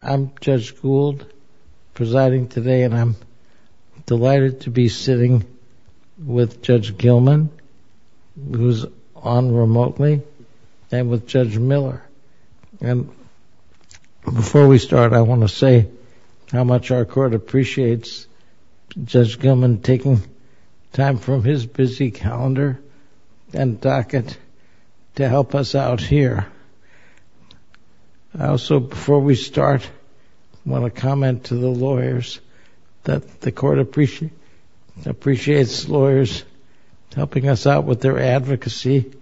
I'm Judge Gould presiding today and I'm delighted to be sitting with Judge Gilman who's on remotely and with Judge Miller. And before we start I want to say how much our court appreciates Judge Gilman taking time from his busy calendar and docket to help us out here. I also before we start want to comment to the lawyers that the court appreciates lawyers helping us out with their advocacy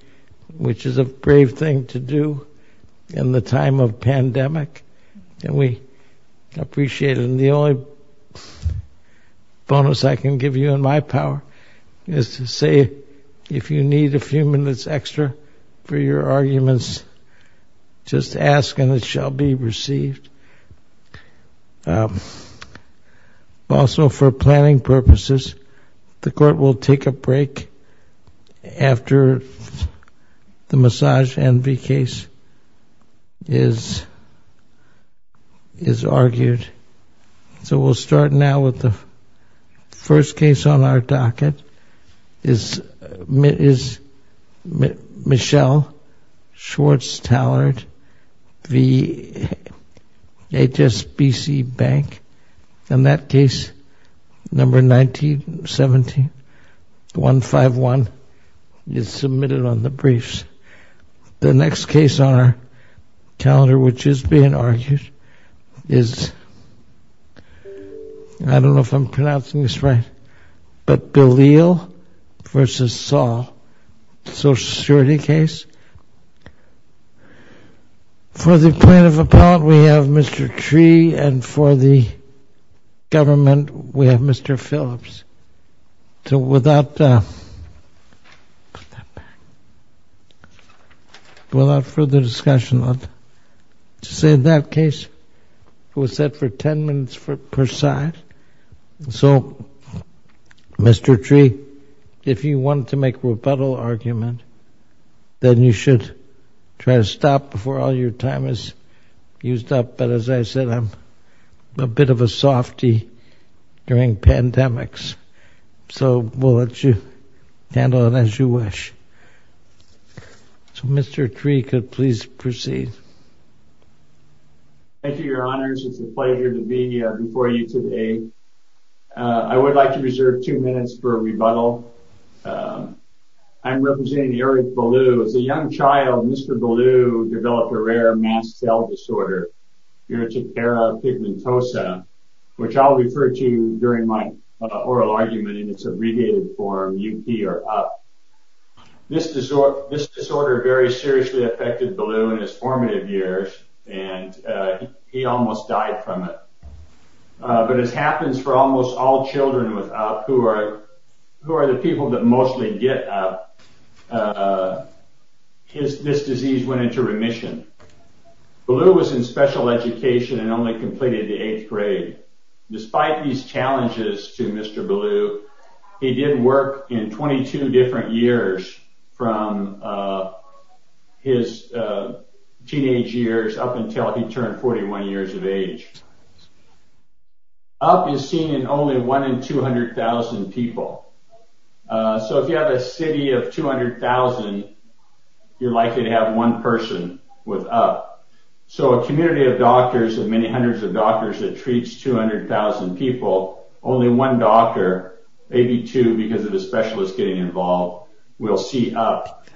which is a brave thing to do in the time of pandemic and we appreciate it. The only bonus I can give you in my power is to say if you need a few minutes extra for your arguments just ask and it shall be received. Also for planning purposes the court will take a break after the massage envy case is argued. So we'll start now with the first case on our docket is Michelle Schwartz-Tallard v. HSBC Bank and that case number 1917-151 is submitted on the briefs. The next case on our calendar which is being argued is, I don't know if I'm pronouncing this right, but Belieu v. Saul, social security case. For the plaintiff appellant we have Mr. Tree and for the government we have Mr. Phillips. So without further discussion I'll just say that case was set for 10 minutes per side. So Mr. Tree if you want to make a rebuttal argument then you should try to stop before all your time is used up. But as I said I'm a bit of a softy during pandemics. So we'll let you handle it as you wish. So Mr. Tree could please proceed. Thank you, your honors. It's a pleasure to be before you today. I would like to reserve two minutes for a rebuttal. I'm representing Eric Belieu. As a young child Mr. Belieu developed a rare mass cell disorder, urticaria pigmentosa, which I'll refer to during my oral argument in its abbreviated form UP or UP. This disorder very seriously affected Belieu in his formative years and he almost died from it. But as happens for almost all children with UP who are the people that mostly get UP, this disease went into remission. Belieu was in special education and only completed the eighth grade. Despite these challenges to Mr. Belieu, he did work in 22 different years from his teenage years up until he turned 41 years of age. UP is seen in only one in 200,000 people. So if you have a city of 200,000, you're likely to have one person with UP. So a community of doctors, of many hundreds of doctors that treats 200,000 people, only one doctor, maybe two because of the specialists getting involved, will see UP.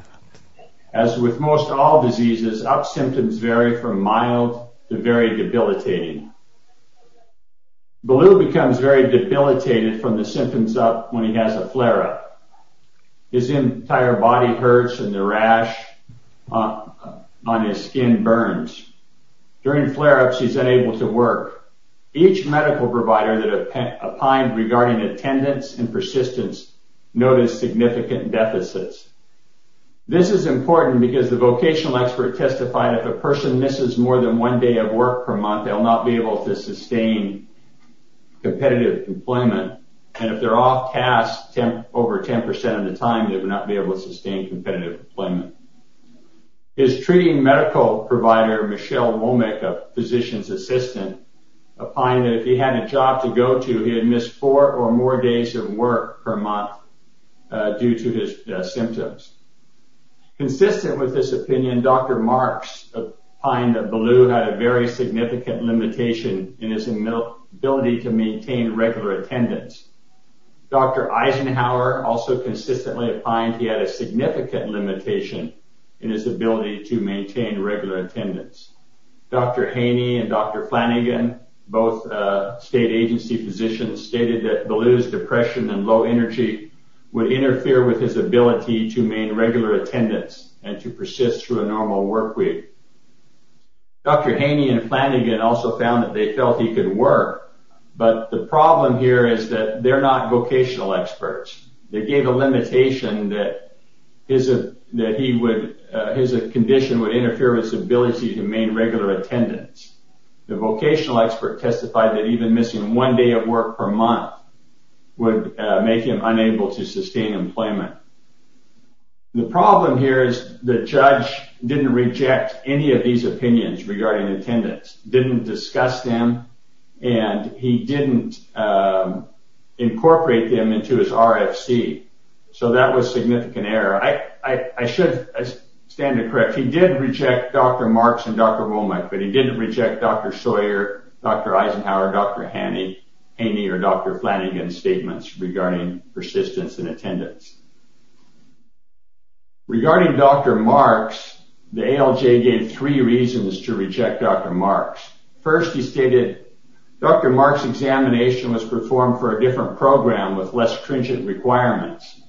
As with most all diseases, UP symptoms vary from mild to very debilitating. Belieu becomes very debilitated from the symptoms UP when he has a flare-up. His entire body hurts and the rash on his skin burns. During flare-ups he's unable to work. Each medical provider that applied regarding attendance and persistence noticed significant deficits. This is important because the vocational expert testified if a person misses more than one day of work per month, they'll not be able to sustain competitive employment. And if they're off task over 10% of the time, they would not be able to sustain competitive employment. His treating medical provider, Michelle Womick, a physician's assistant, opined that if he had a job to go to, he would miss four or more days of work per month due to his symptoms. Consistent with this opinion, Dr. Marks opined that Belieu had a very significant limitation in his ability to maintain regular attendance. Dr. Eisenhower also consistently opined he had a significant limitation in his ability to maintain regular attendance. Dr. Haney and Dr. Flanagan, both state agency physicians, stated that Belieu's depression and low energy would interfere with his ability to maintain regular attendance and to persist through a normal work week. Dr. Haney and Flanagan also found that they felt he could work, but the problem here is that they're not vocational experts. They gave a limitation that his condition would interfere with his ability to maintain regular attendance. The vocational expert testified that even missing one day of work per month would make him unable to sustain employment. The problem here is the judge didn't reject any of these opinions regarding attendance, didn't discuss them, and he didn't incorporate them into his RFC. So that was significant error. I should stand to correct. He did reject Dr. Marks and Dr. Womack, but he didn't reject Dr. Sawyer, Dr. Eisenhower, Dr. Haney, or Dr. Flanagan's statements regarding persistence and attendance. Regarding Dr. Marks, the ALJ gave three reasons to reject Dr. Marks. First, he stated, Dr. Marks' examination was performed for a different program with less stringent requirements.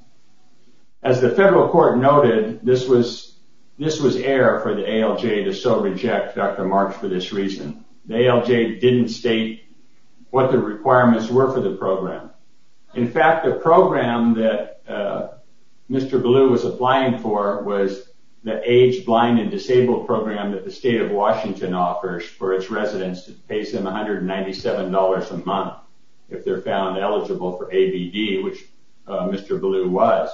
As the federal court noted, this was error for the ALJ to so reject Dr. Marks for this reason. The ALJ didn't state what the requirements were for the program. In fact, the program that Mr. Ballou was applying for was the Aged, Blind, and Disabled program that the state of Washington offers for its residents. It pays them $197 a month if they're found eligible for ABD, which Mr. Ballou was.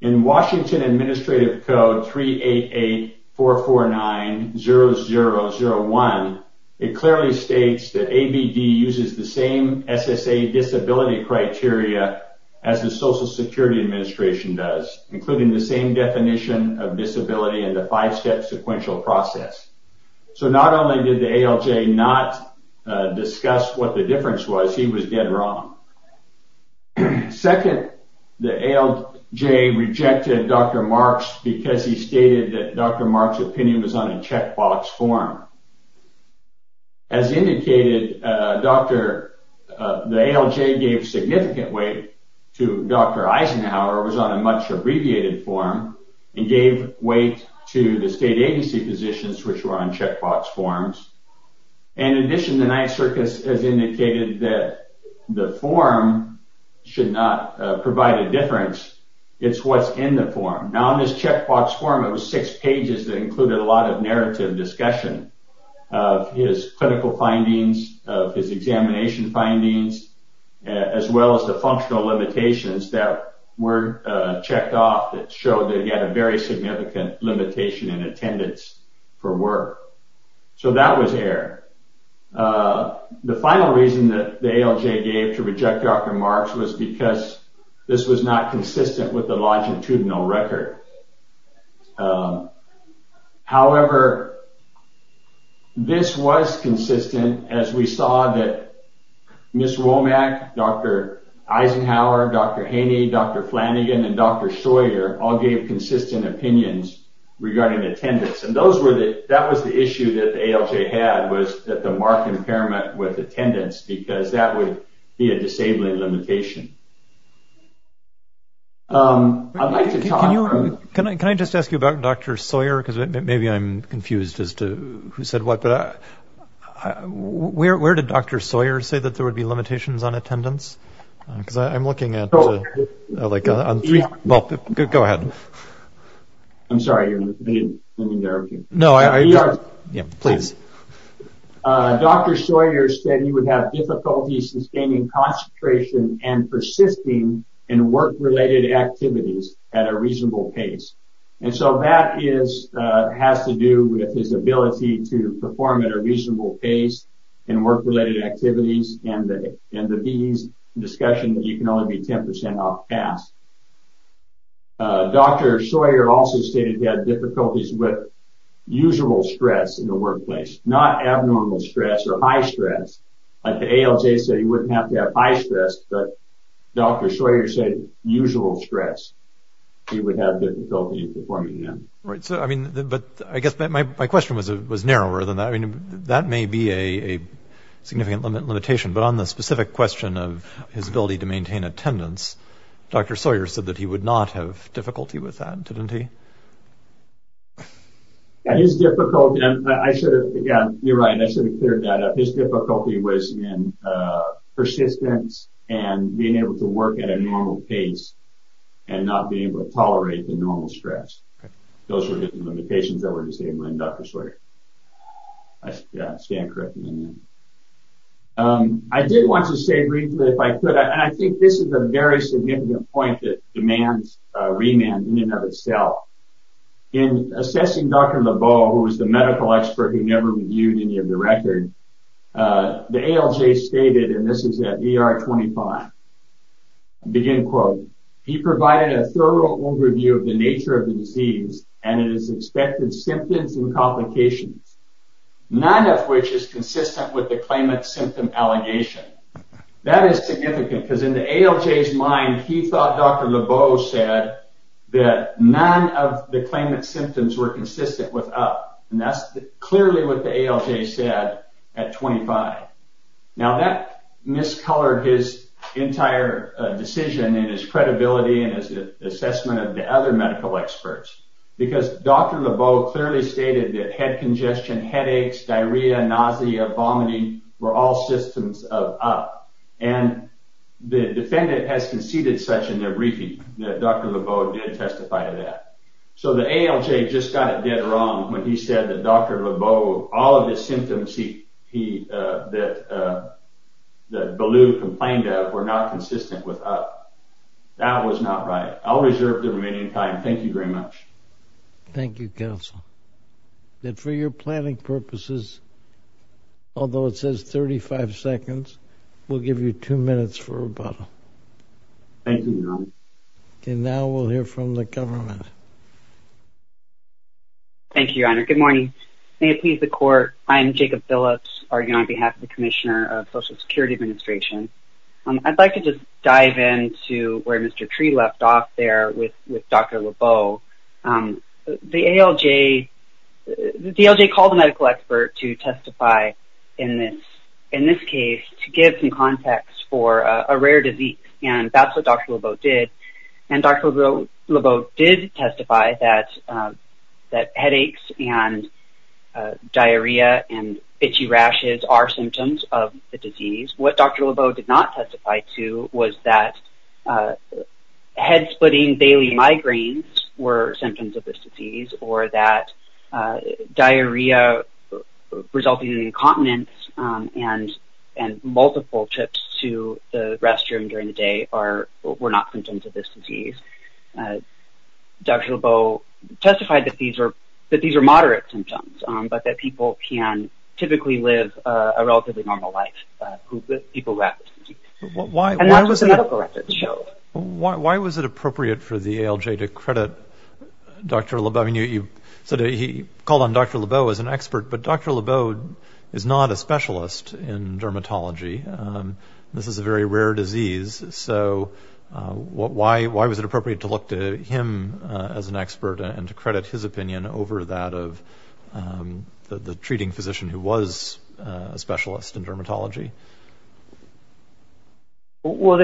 In Washington Administrative Code 3884490001, it clearly states that ABD uses the same SSA disability criteria as the Social Security Administration does, including the same definition of disability and the five-step sequential process. So not only did the ALJ not discuss what the difference was, he was dead wrong. Second, the ALJ rejected Dr. Marks because he stated that Dr. Marks' opinion was on a checkbox form. As indicated, the ALJ gave significant weight to Dr. Eisenhower, was on a much-abbreviated form, and gave weight to the state agency positions, which were on checkbox forms. In addition, the Ninth Circus has indicated that the form should not provide a difference. Now in this checkbox form, it was six pages that included a lot of narrative discussion of his clinical findings, of his examination findings, as well as the functional limitations that were checked off that showed that he had a very significant limitation in attendance for work. So that was error. The final reason that the ALJ gave to reject Dr. Marks was because this was not consistent with the longitudinal record. However, this was consistent as we saw that Ms. Womack, Dr. Eisenhower, Dr. Haney, Dr. Flanagan, and Dr. Sawyer all gave consistent opinions regarding attendance. And that was the issue that the ALJ had, was that the Mark impairment with attendance, because that would be a disabling limitation. I'd like to talk... Can I just ask you about Dr. Sawyer? Maybe I'm confused as to who said what, but where did Dr. Sawyer say that there would be limitations on attendance? Because I'm looking at like, well, go ahead. I'm sorry, I didn't mean to interrupt you. No, please. Dr. Sawyer said he would have difficulty sustaining concentration and persisting in work-related activities at a reasonable pace. And so that has to do with his ability to perform at a reasonable pace in work-related activities and the BE's discussion that you can only be 10% off pass. Dr. Sawyer also stated he had difficulties with usual stress in the workplace, not abnormal stress or high stress. Like the ALJ said he wouldn't have to have high stress, but Dr. Sawyer said usual stress he would have difficulty performing in. Right. So, I mean, but I guess my question was narrower than that. I mean, that may be a significant limitation, but on the specific question of his ability to maintain attendance, Dr. Sawyer said that he would not have difficulty with that, didn't he? His difficulty, and I should have, yeah, you're right, I should have cleared that up. His difficulty was in persistence and being able to work at a normal pace and not being able to tolerate the normal stress. Those were the limitations that were to stay in mind, Dr. Sawyer. I stand corrected in that. I did want to say briefly, if I could, and I think this is a very significant point that demands remand in and of itself. In assessing Dr. LeBeau, who was the medical expert who never reviewed any of the record, the ALJ stated, and this is at ER 25, begin quote, he provided a thorough overview of the nature of the disease and its expected symptoms and complications, none of which is consistent with the claimant's symptom allegation. That is significant, because in the ALJ's mind, he thought Dr. LeBeau said that none of the claimant's symptoms were consistent with up, and that's clearly what the ALJ said at 25. Now, that miscolored his entire decision and his credibility and his assessment of the other medical experts, because Dr. LeBeau clearly stated that head congestion, headaches, diarrhea, nausea, vomiting, were all systems of up. And the defendant has conceded such in their briefing, that Dr. LeBeau did testify to that. So the ALJ just got it dead wrong when he said that Dr. LeBeau, all of his symptoms that Ballew complained of were not consistent with up. That was not right. I'll reserve the remaining time. Thank you very much. Thank you, Counsel. And for your planning purposes, although it says 35 seconds, we'll give you two minutes for rebuttal. Thank you, Your Honor. Okay, now we'll hear from the government. Thank you, Your Honor. Good morning. May it please the Court, I am Jacob Phillips, arguing on behalf of the Commissioner of Social Security Administration. I'd like to just dive into where Mr. Tree left off there with Dr. LeBeau. The ALJ called a medical expert to testify in this case to give some context for a rare disease, and that's what Dr. LeBeau did. And Dr. LeBeau did testify that headaches and diarrhea and itchy rashes are symptoms of the disease. What Dr. LeBeau did not testify to was that head-splitting daily migraines were symptoms of this disease, or that diarrhea resulting in incontinence and multiple trips to the restroom during the day were not symptoms of this disease. Dr. LeBeau testified that these are moderate symptoms, but that people can typically live a relatively normal life with people who have this disease. And that's what the medical records show. Why was it appropriate for the ALJ to credit Dr. LeBeau? I mean, you said he called on Dr. LeBeau as an expert, but Dr. LeBeau is not a specialist in dermatology. This is a very rare disease, so why was it appropriate to look to him as an expert and to credit his opinion over that of the treating physician who was a specialist in dermatology? Well,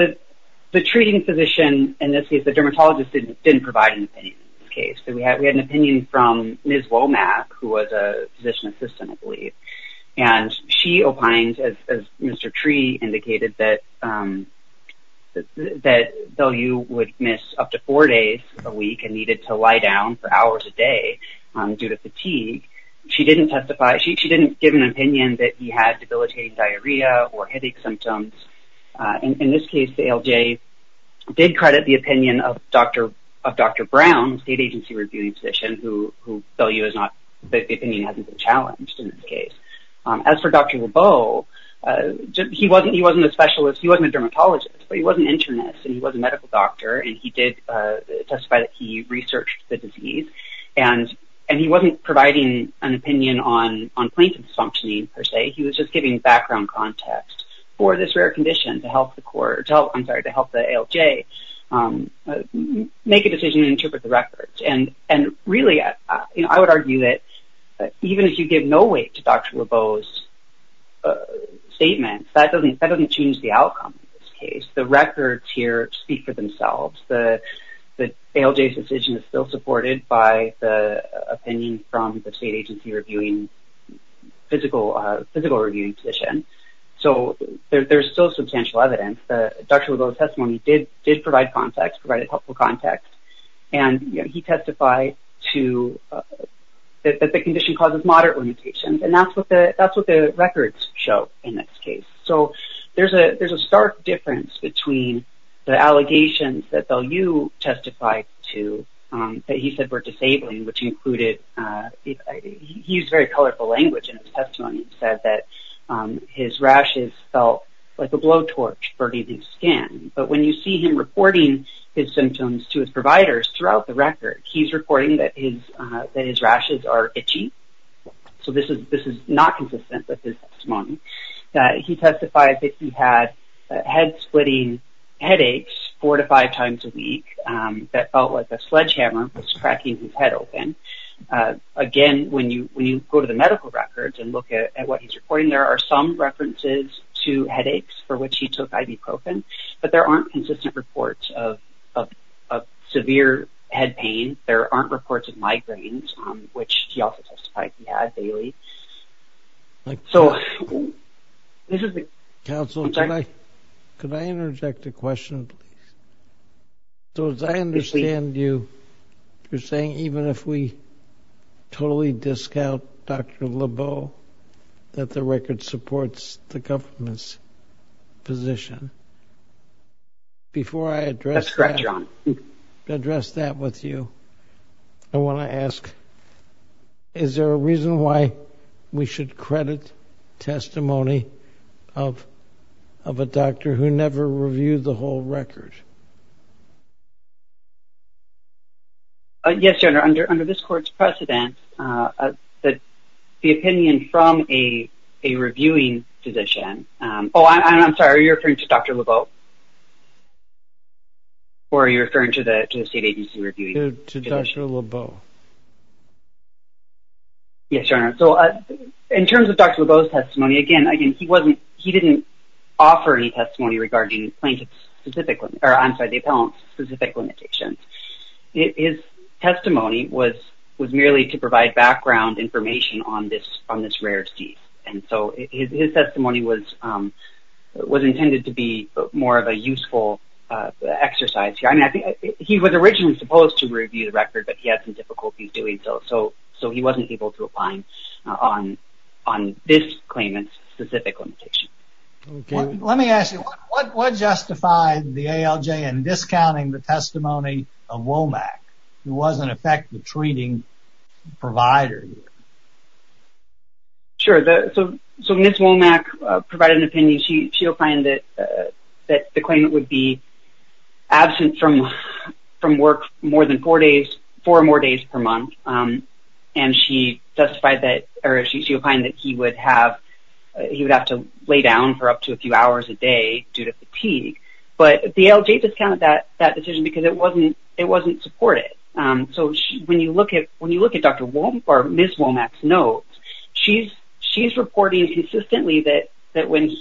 the treating physician, in this case the dermatologist, didn't provide an opinion in this case. We had an opinion from Ms. Womack, who was a physician assistant, I believe. And she opined, as Mr. Tree indicated, that Belle Ewe would miss up to four days a week and needed to lie down for hours a day due to fatigue. She didn't testify, she didn't give an opinion that he had debilitating diarrhea or headache symptoms. In this case, the ALJ did credit the opinion of Dr. Brown, state agency reviewing physician, who Belle Ewe is not, the opinion hasn't been challenged in this case. As for Dr. LeBeau, he wasn't a specialist, he wasn't a dermatologist, but he was an internist, and he was a medical doctor, and he did testify that he researched the disease. And he wasn't providing an opinion on plaintiff's functioning, per se, he was just giving background context for this rare condition to help the ALJ make a decision and interpret the records. And really, I would argue that even if you give no weight to Dr. LeBeau's statements, that doesn't change the outcome in this case. The records here speak for themselves. The ALJ's decision is still supported by the opinion from the state agency physical reviewing physician, so there's still substantial evidence. Dr. LeBeau's testimony did provide context, provided helpful context, and he testified that the condition causes moderate limitations, and that's what the records show in this case. So there's a stark difference between the allegations that Belle Ewe testified to, that he said were disabling, which included, he used very colorful language in his testimony and said that his rashes felt like a blowtorch burning his skin. But when you see him reporting his symptoms to his providers throughout the record, he's reporting that his rashes are itchy, so this is not consistent with his testimony. He testified that he had head splitting headaches four to five times a week, that felt like a sledgehammer was cracking his head open. Again, when you go to the medical records and look at what he's reporting, there are some references to headaches for which he took ibuprofen, but there aren't consistent reports of severe head pain. There aren't reports of migraines, which he also testified he had daily. So this is the... Counsel, could I interject a question, please? So as I understand you, you're saying even if we totally discount Dr. LeBeau that the record supports the government's position. Before I address that with you, I want to ask, is there a reason why we should credit testimony of a doctor who never reviewed the whole record? Yes, General, under this court's precedent, the opinion from a reviewing physician... Oh, I'm sorry, are you referring to Dr. LeBeau? Or are you referring to the state agency reviewing physician? To Dr. LeBeau. Yes, General, so in terms of Dr. LeBeau's testimony, again, he didn't offer any testimony regarding plaintiff-specific... I'm sorry, the appellant-specific limitations. His testimony was merely to provide background information on this rare cease. And so his testimony was intended to be more of a useful exercise. I mean, he was originally supposed to review the record, but he had some difficulties doing so, so he wasn't able to apply on this claimant-specific limitation. Let me ask you, what justified the ALJ in discounting the testimony of Womack, who was an effective treating provider here? Sure, so Ms. Womack provided an opinion. She opined that the claimant would be absent from work more than four days, four or more days per month. And she justified that, or she opined that he would have to lay down for up to a few hours a day due to fatigue. But the ALJ discounted that decision because it wasn't supported. So when you look at Dr. Womack or Ms. Womack's notes, she's reporting consistently that when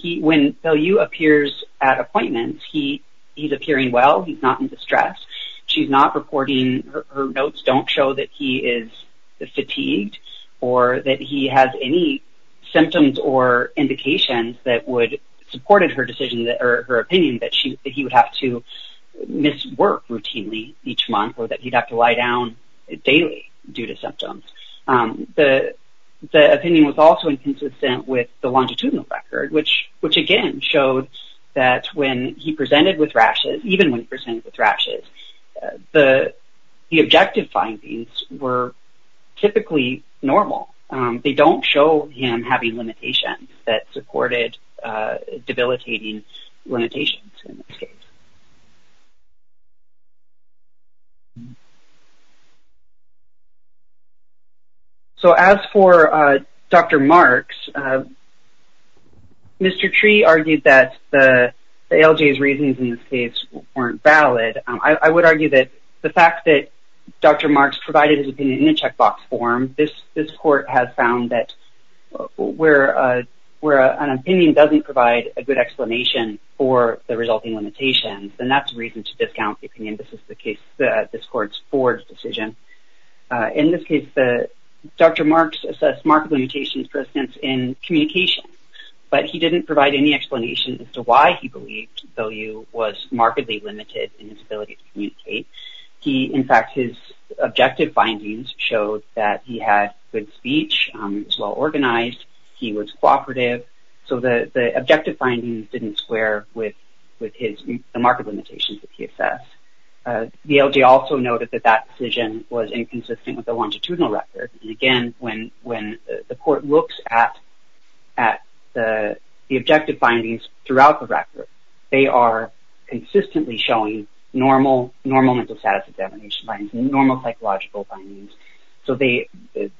LeBeau appears at appointments, he's appearing well, he's not in distress. She's not reporting her notes don't show that he is fatigued or that he has any symptoms or indications that would support her decision or her opinion that he would have to miss work routinely each month or that he'd have to lie down daily due to symptoms. The opinion was also inconsistent with the longitudinal record, which again showed that when he presented with rashes, even when he presented with rashes, the objective findings were typically normal. They don't show him having limitations that supported debilitating limitations in this case. So as for Dr. Marks, Mr. Tree argued that the ALJ's reasons in this case weren't valid. I would argue that the fact that Dr. Marks provided his opinion in a checkbox form, this court has found that where an opinion doesn't provide a good explanation for the resulting limitations, then that's a reason to discount the opinion. This is the case, this court's Ford's decision. In this case, Dr. Marks assessed marked limitations for instance in communication, but he didn't provide any explanation as to why he believed value was markedly limited in his ability to communicate. In fact, his objective findings showed that he had good speech, was well organized, he was cooperative. So the objective findings didn't square with the marked limitations that he assessed. The ALJ also noted that that decision was inconsistent with the longitudinal record. And again, when the court looks at the objective findings, throughout the record, they are consistently showing normal mental status examination findings, normal psychological findings. So they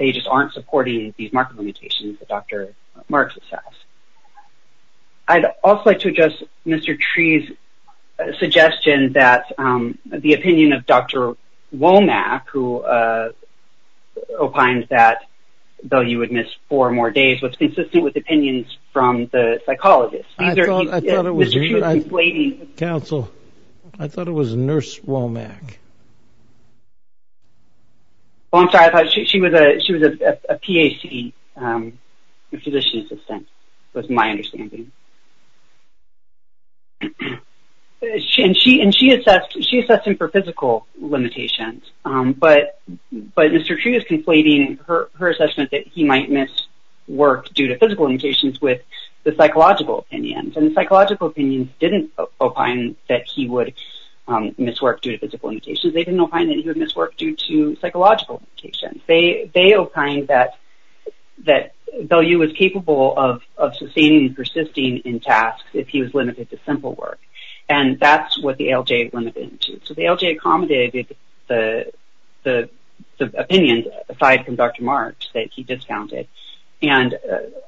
just aren't supporting these marked limitations that Dr. Marks assessed. I'd also like to address Mr. Tree's suggestion that the opinion of Dr. Womack, who opined that value would miss four more days, was consistent with opinions from the psychologist. I thought it was... Counsel, I thought it was Nurse Womack. Oh, I'm sorry. She was a PAC, a physician assistant, was my understanding. And she assessed him for physical limitations, but Mr. Tree is conflating her assessment that he might miss work due to physical limitations with the psychological opinions. And the psychological opinions didn't opine that he would miss work due to physical limitations. They didn't opine that he would miss work due to psychological limitations. They opined that value was capable of sustaining and persisting in tasks if he was limited to simple work. And that's what the ALJ limited him to. So the ALJ accommodated the opinions, aside from Dr. Marks, that he discounted. And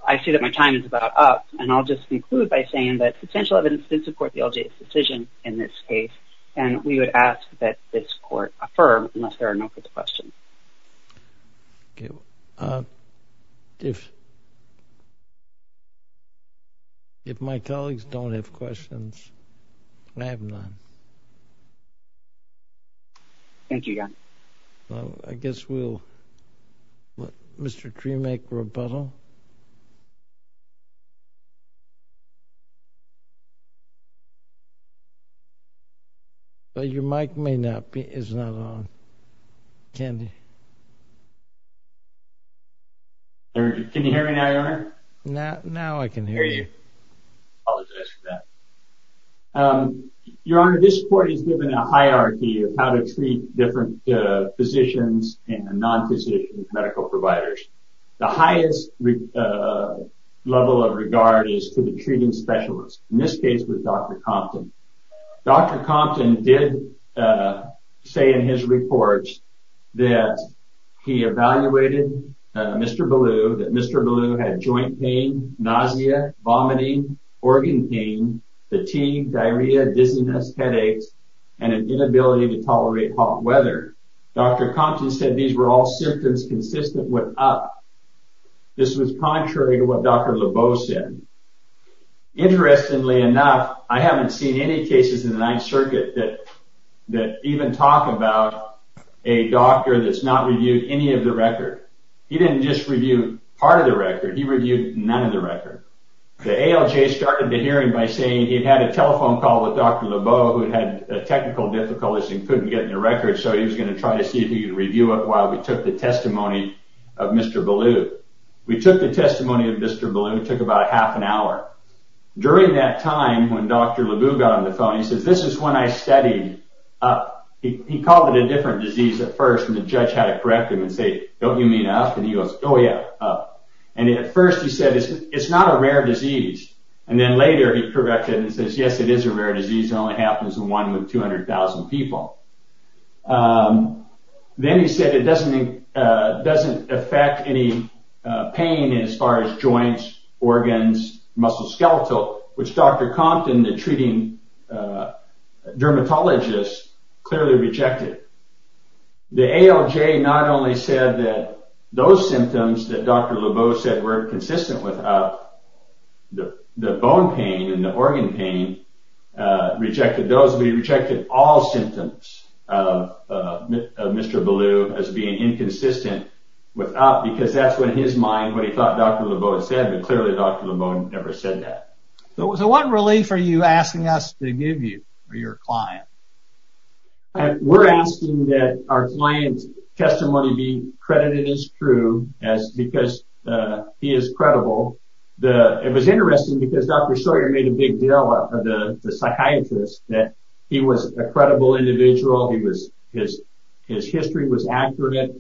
I see that my time is about up, and I'll just conclude by saying that substantial evidence did support the ALJ's decision in this case, and we would ask that this court affirm, unless there are no further questions. If my colleagues don't have questions, I have none. Thank you, John. Well, I guess we'll let Mr. Tree make rebuttal. Your mic is not on. Can you hear me now, Your Honor? Now I can hear you. Apologize for that. Your Honor, this court has given a hierarchy of how to treat different physicians and non-physicians, medical providers. The highest level of regard is to the treating specialist, in this case with Dr. Compton. Dr. Compton did say in his reports that he evaluated Mr. Ballou, that Mr. Ballou had joint pain, nausea, vomiting, organ pain, fatigue, diarrhea, dizziness, headaches, and an inability to tolerate hot weather. Dr. Compton said these were all symptoms consistent with up. This was contrary to what Dr. Lebeau said. Interestingly enough, I haven't seen any cases in the Ninth Circuit that even talk about a doctor that's not reviewed any of the record. He didn't just review part of the record, he reviewed none of the record. The ALJ started the hearing by saying he'd had a telephone call with Dr. Lebeau who had had a technical difficulty and couldn't get in the record, so he was going to try to see if he could review it while we took the testimony of Mr. Ballou. We took the testimony of Mr. Ballou, it took about a half an hour. During that time, when Dr. Lebeau got on the phone, he says, this is when I studied up. He called it a different disease at first and the judge had to correct him and say, don't you mean up? And he goes, oh yeah, up. And at first he said, it's not a rare disease. And then later he corrected and says, yes, it is a rare disease. It only happens in one with 200,000 people. Then he said it doesn't affect any pain as far as joints, organs, muscle skeletal, which Dr. Compton, the treating dermatologist, clearly rejected. The ALJ not only said that those symptoms that Dr. Lebeau said were consistent with up, the bone pain and the organ pain rejected those, but he rejected all symptoms of Mr. Ballou as being inconsistent with up because that's what his mind, what he thought Dr. Lebeau had said, but clearly Dr. Lebeau never said that. So what relief are you asking us to give you or your client? We're asking that our client's testimony be credited as true because he is credible. It was interesting because Dr. Sawyer made a big deal of the psychiatrist that he was a credible individual. He was, his history was accurate.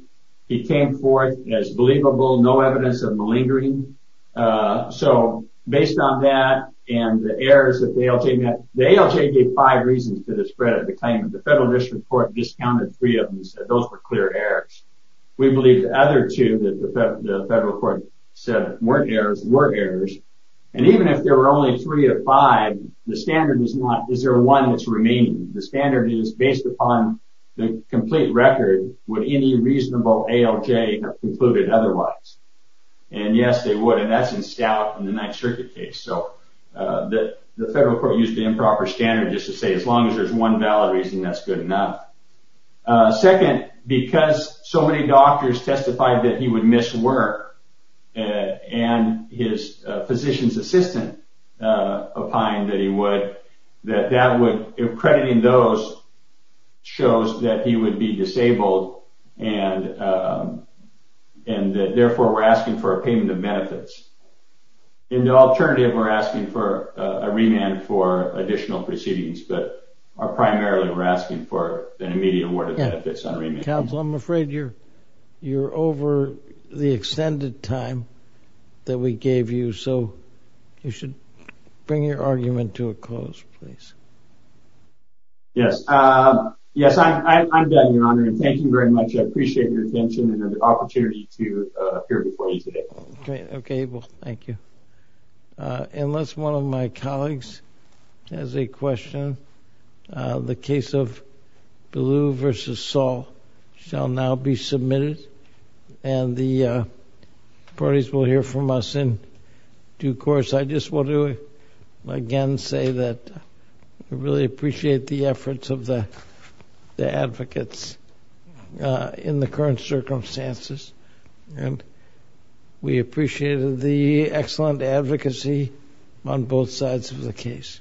He came forth as believable, no evidence of malingering. So based on that and the errors that the ALJ met, the ALJ gave five reasons to the spread of the claimant. The federal district court discounted three of them and said those were clear errors. We believe the other two that the federal court said weren't errors, were errors. And even if there were only three or five, the standard is not, is there one that's remaining? The standard is based upon the complete record. Would any reasonable ALJ have concluded otherwise? And yes, they would. And that's in stout in the Ninth Circuit case. So the federal court used the improper standard just to say as long as there's one valid reason, that's good enough. Second, because so many doctors testified that he would miss work and his physician's assistant opined that he would, that that would, accrediting those shows that he would be disabled and that therefore we're asking for a payment of benefits. In the alternative, we're asking for a remand for additional proceedings, but primarily we're asking for an immediate award of benefits on remand. Counsel, I'm afraid you're, you're over the extended time that we gave you. So you should bring your argument to a close, please. Yes. Yes, I'm done, Your Honor. And thank you very much. I appreciate your attention and the opportunity to appear before you today. Okay, well, thank you. Unless one of my colleagues has a question, the case of Ballou v. Saul shall now be submitted and the parties will hear from us in due course. I just want to again say that I really appreciate the efforts of the advocates in the current circumstances and we appreciate the excellent advocacy on both sides of the case. Thank you.